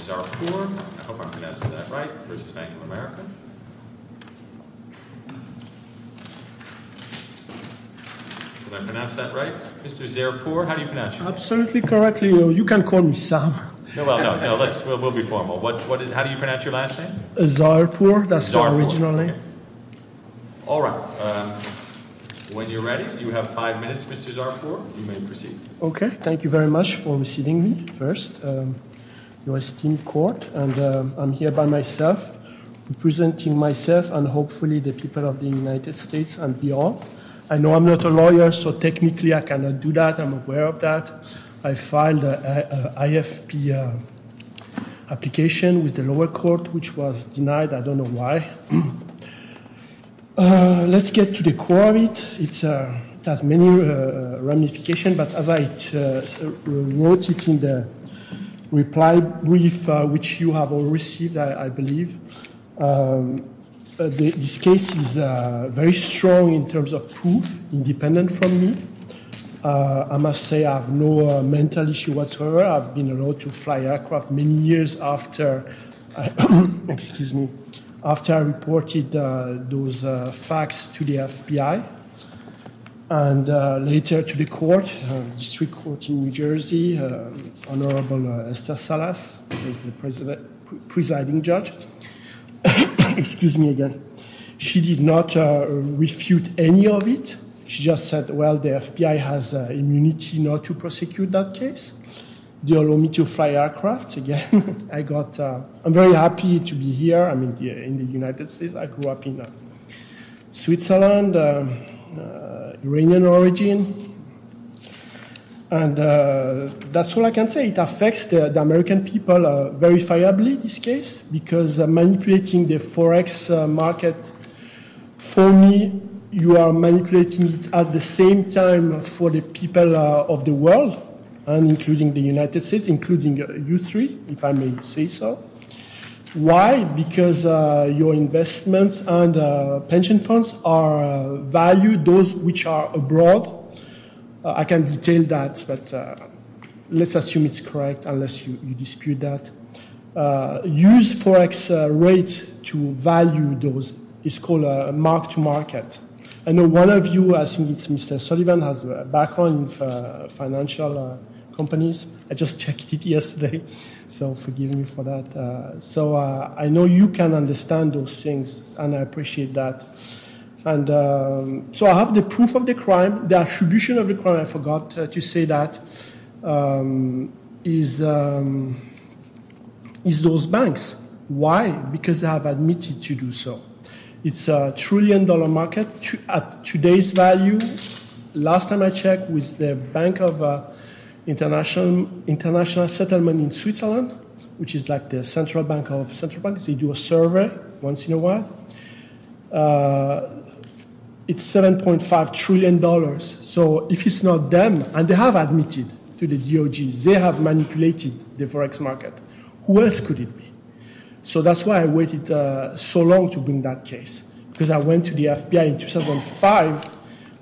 Mr. Zaerpour, I hope I'm pronouncing that right, versus Bank of America. Did I pronounce that right? Mr. Zaerpour, how do you pronounce your name? Absolutely correctly. You can call me Sam. No, we'll be formal. How do you pronounce your last name? Zaerpour, that's my original name. All right. When you're ready, you have five minutes, Mr. Zaerpour. You may proceed. Okay. Thank you very much for receiving me first, your esteemed court. And I'm here by myself, representing myself and hopefully the people of the United States and beyond. I know I'm not a lawyer, so technically I cannot do that. I'm aware of that. I filed an IFP application with the lower court, which was denied. I don't know why. Let's get to the core of it. It has many ramifications. But as I wrote it in the reply brief, which you have all received, I believe, this case is very strong in terms of proof, independent from me. I must say I have no mental issue whatsoever. I've been allowed to fly aircraft many years after I reported those facts to the FBI. And later to the court, District Court in New Jersey, Honorable Esther Salas is the presiding judge. Excuse me again. She did not refute any of it. She just said, well, the FBI has immunity not to prosecute that case. They allow me to fly aircraft again. I'm very happy to be here in the United States. I grew up in Switzerland, Iranian origin. And that's all I can say. It affects the American people verifiably, this case, because manipulating the forex market for me, you are manipulating it at the same time for the people of the world, including the United States, including you three, if I may say so. Why? Because your investments and pension funds are valued, those which are abroad. I can detail that, but let's assume it's correct, unless you dispute that. Use forex rates to value those. It's called mark to market. I know one of you, I think it's Mr. Sullivan, has a background in financial companies. I just checked it yesterday, so forgive me for that. So I know you can understand those things, and I appreciate that. The attribution of the crime, I forgot to say that, is those banks. Why? Because they have admitted to do so. It's a trillion-dollar market at today's value. Last time I checked, it was the Bank of International Settlement in Switzerland, which is like the central bank of central banks. They do a survey once in a while. It's $7.5 trillion. So if it's not them, and they have admitted to the DOG, they have manipulated the forex market, who else could it be? So that's why I waited so long to bring that case, because I went to the FBI in 2005,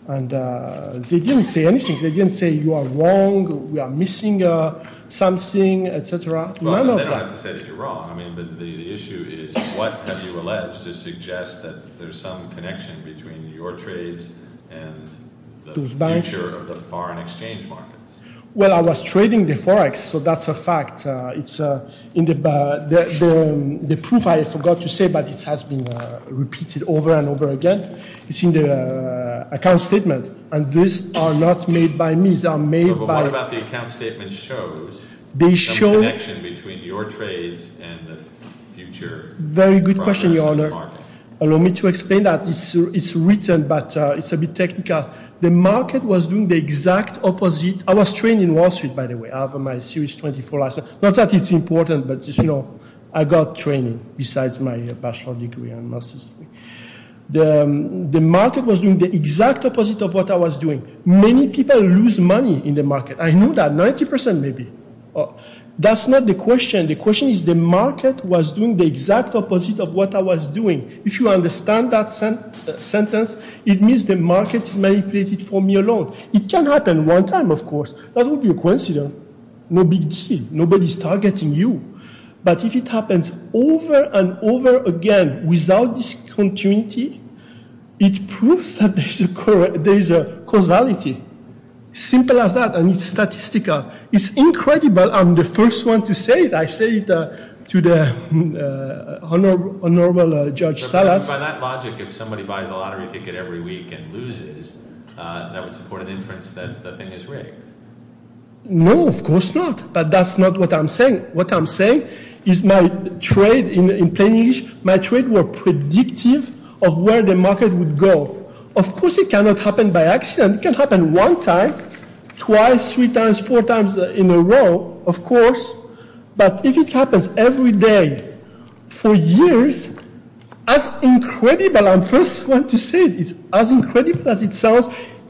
and they didn't say anything. They didn't say you are wrong, we are missing something, et cetera. None of that. You don't have to say that you are wrong. The issue is, what have you alleged to suggest that there is some connection between your trades and the future of the foreign exchange markets? Well, I was trading the forex, so that's a fact. The proof, I forgot to say, but it has been repeated over and over again. It's in the account statement, and these are not made by me. But what about the account statement shows some connection between your trades and the future progress of the market? Very good question, Your Honor. Allow me to explain that. It's written, but it's a bit technical. The market was doing the exact opposite. I was trading in Wall Street, by the way. I have my Series 24 license. Not that it's important, but I got training, besides my bachelor's degree and master's degree. The market was doing the exact opposite of what I was doing. Many people lose money in the market. I know that. Ninety percent, maybe. That's not the question. The question is, the market was doing the exact opposite of what I was doing. If you understand that sentence, it means the market is manipulated for me alone. It can happen one time, of course. That would be a coincidence. No big deal. Nobody is targeting you. But if it happens over and over again, without discontinuity, it proves that there is a causality. Simple as that. And it's statistical. It's incredible. I'm the first one to say it. I say it to the Honorable Judge Salas. By that logic, if somebody buys a lottery ticket every week and loses, that would support an inference that the thing is rigged. No, of course not. But that's not what I'm saying. What I'm saying is my trade, in plain English, my trade was predictive of where the market would go. Of course it cannot happen by accident. It can happen one time. Twice, three times, four times in a row, of course. But if it happens every day for years, that's incredible. I'm the first one to say it. It's as incredible as it sounds.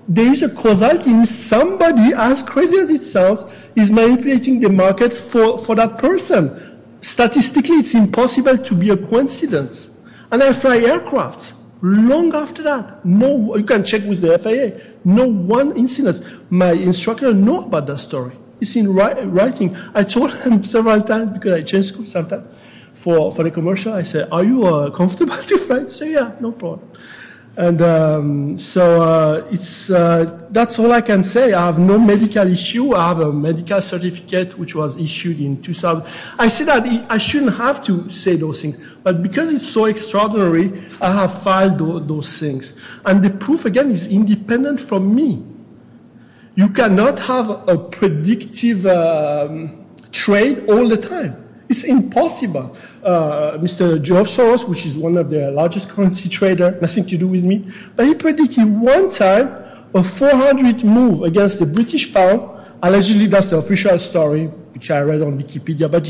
There is a causality in somebody, as crazy as it sounds, is manipulating the market for that person. Statistically, it's impossible to be a coincidence. And I fly aircrafts. Long after that. You can check with the FAA. No one incident. My instructor knows about that story. He's writing. I told him several times, because I change schools sometimes, for the commercial, I say, are you comfortable to fly? He says, yeah, no problem. So that's all I can say. I have no medical issue. I have a medical certificate, which was issued in 2000. I say that I shouldn't have to say those things. But because it's so extraordinary, I have filed those things. And the proof, again, is independent from me. You cannot have a predictive trade all the time. It's impossible. Mr. George Soros, which is one of the largest currency traders, nothing to do with me. But he predicted one time, a 400 move against the British pound. Allegedly, that's the official story, which I read on Wikipedia. But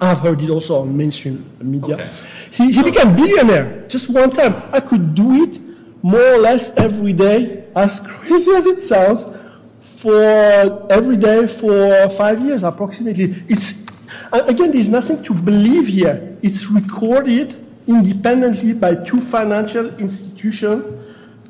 I've heard it also on mainstream media. He became a billionaire. Just one time. I could do it more or less every day, as crazy as it sounds, every day for five years, approximately. Again, there's nothing to believe here. It's recorded independently by two financial institutions,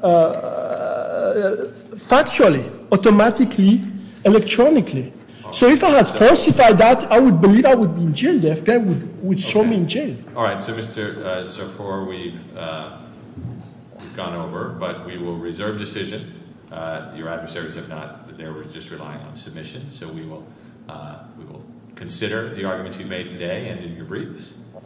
factually, automatically, electronically. So if I had falsified that, I would believe I would be in jail. The FBI would throw me in jail. All right. So, Mr. Zerpour, we've gone over, but we will reserve decision. Your adversaries have not. They were just relying on submission. So we will consider the arguments you've made today and in your briefs.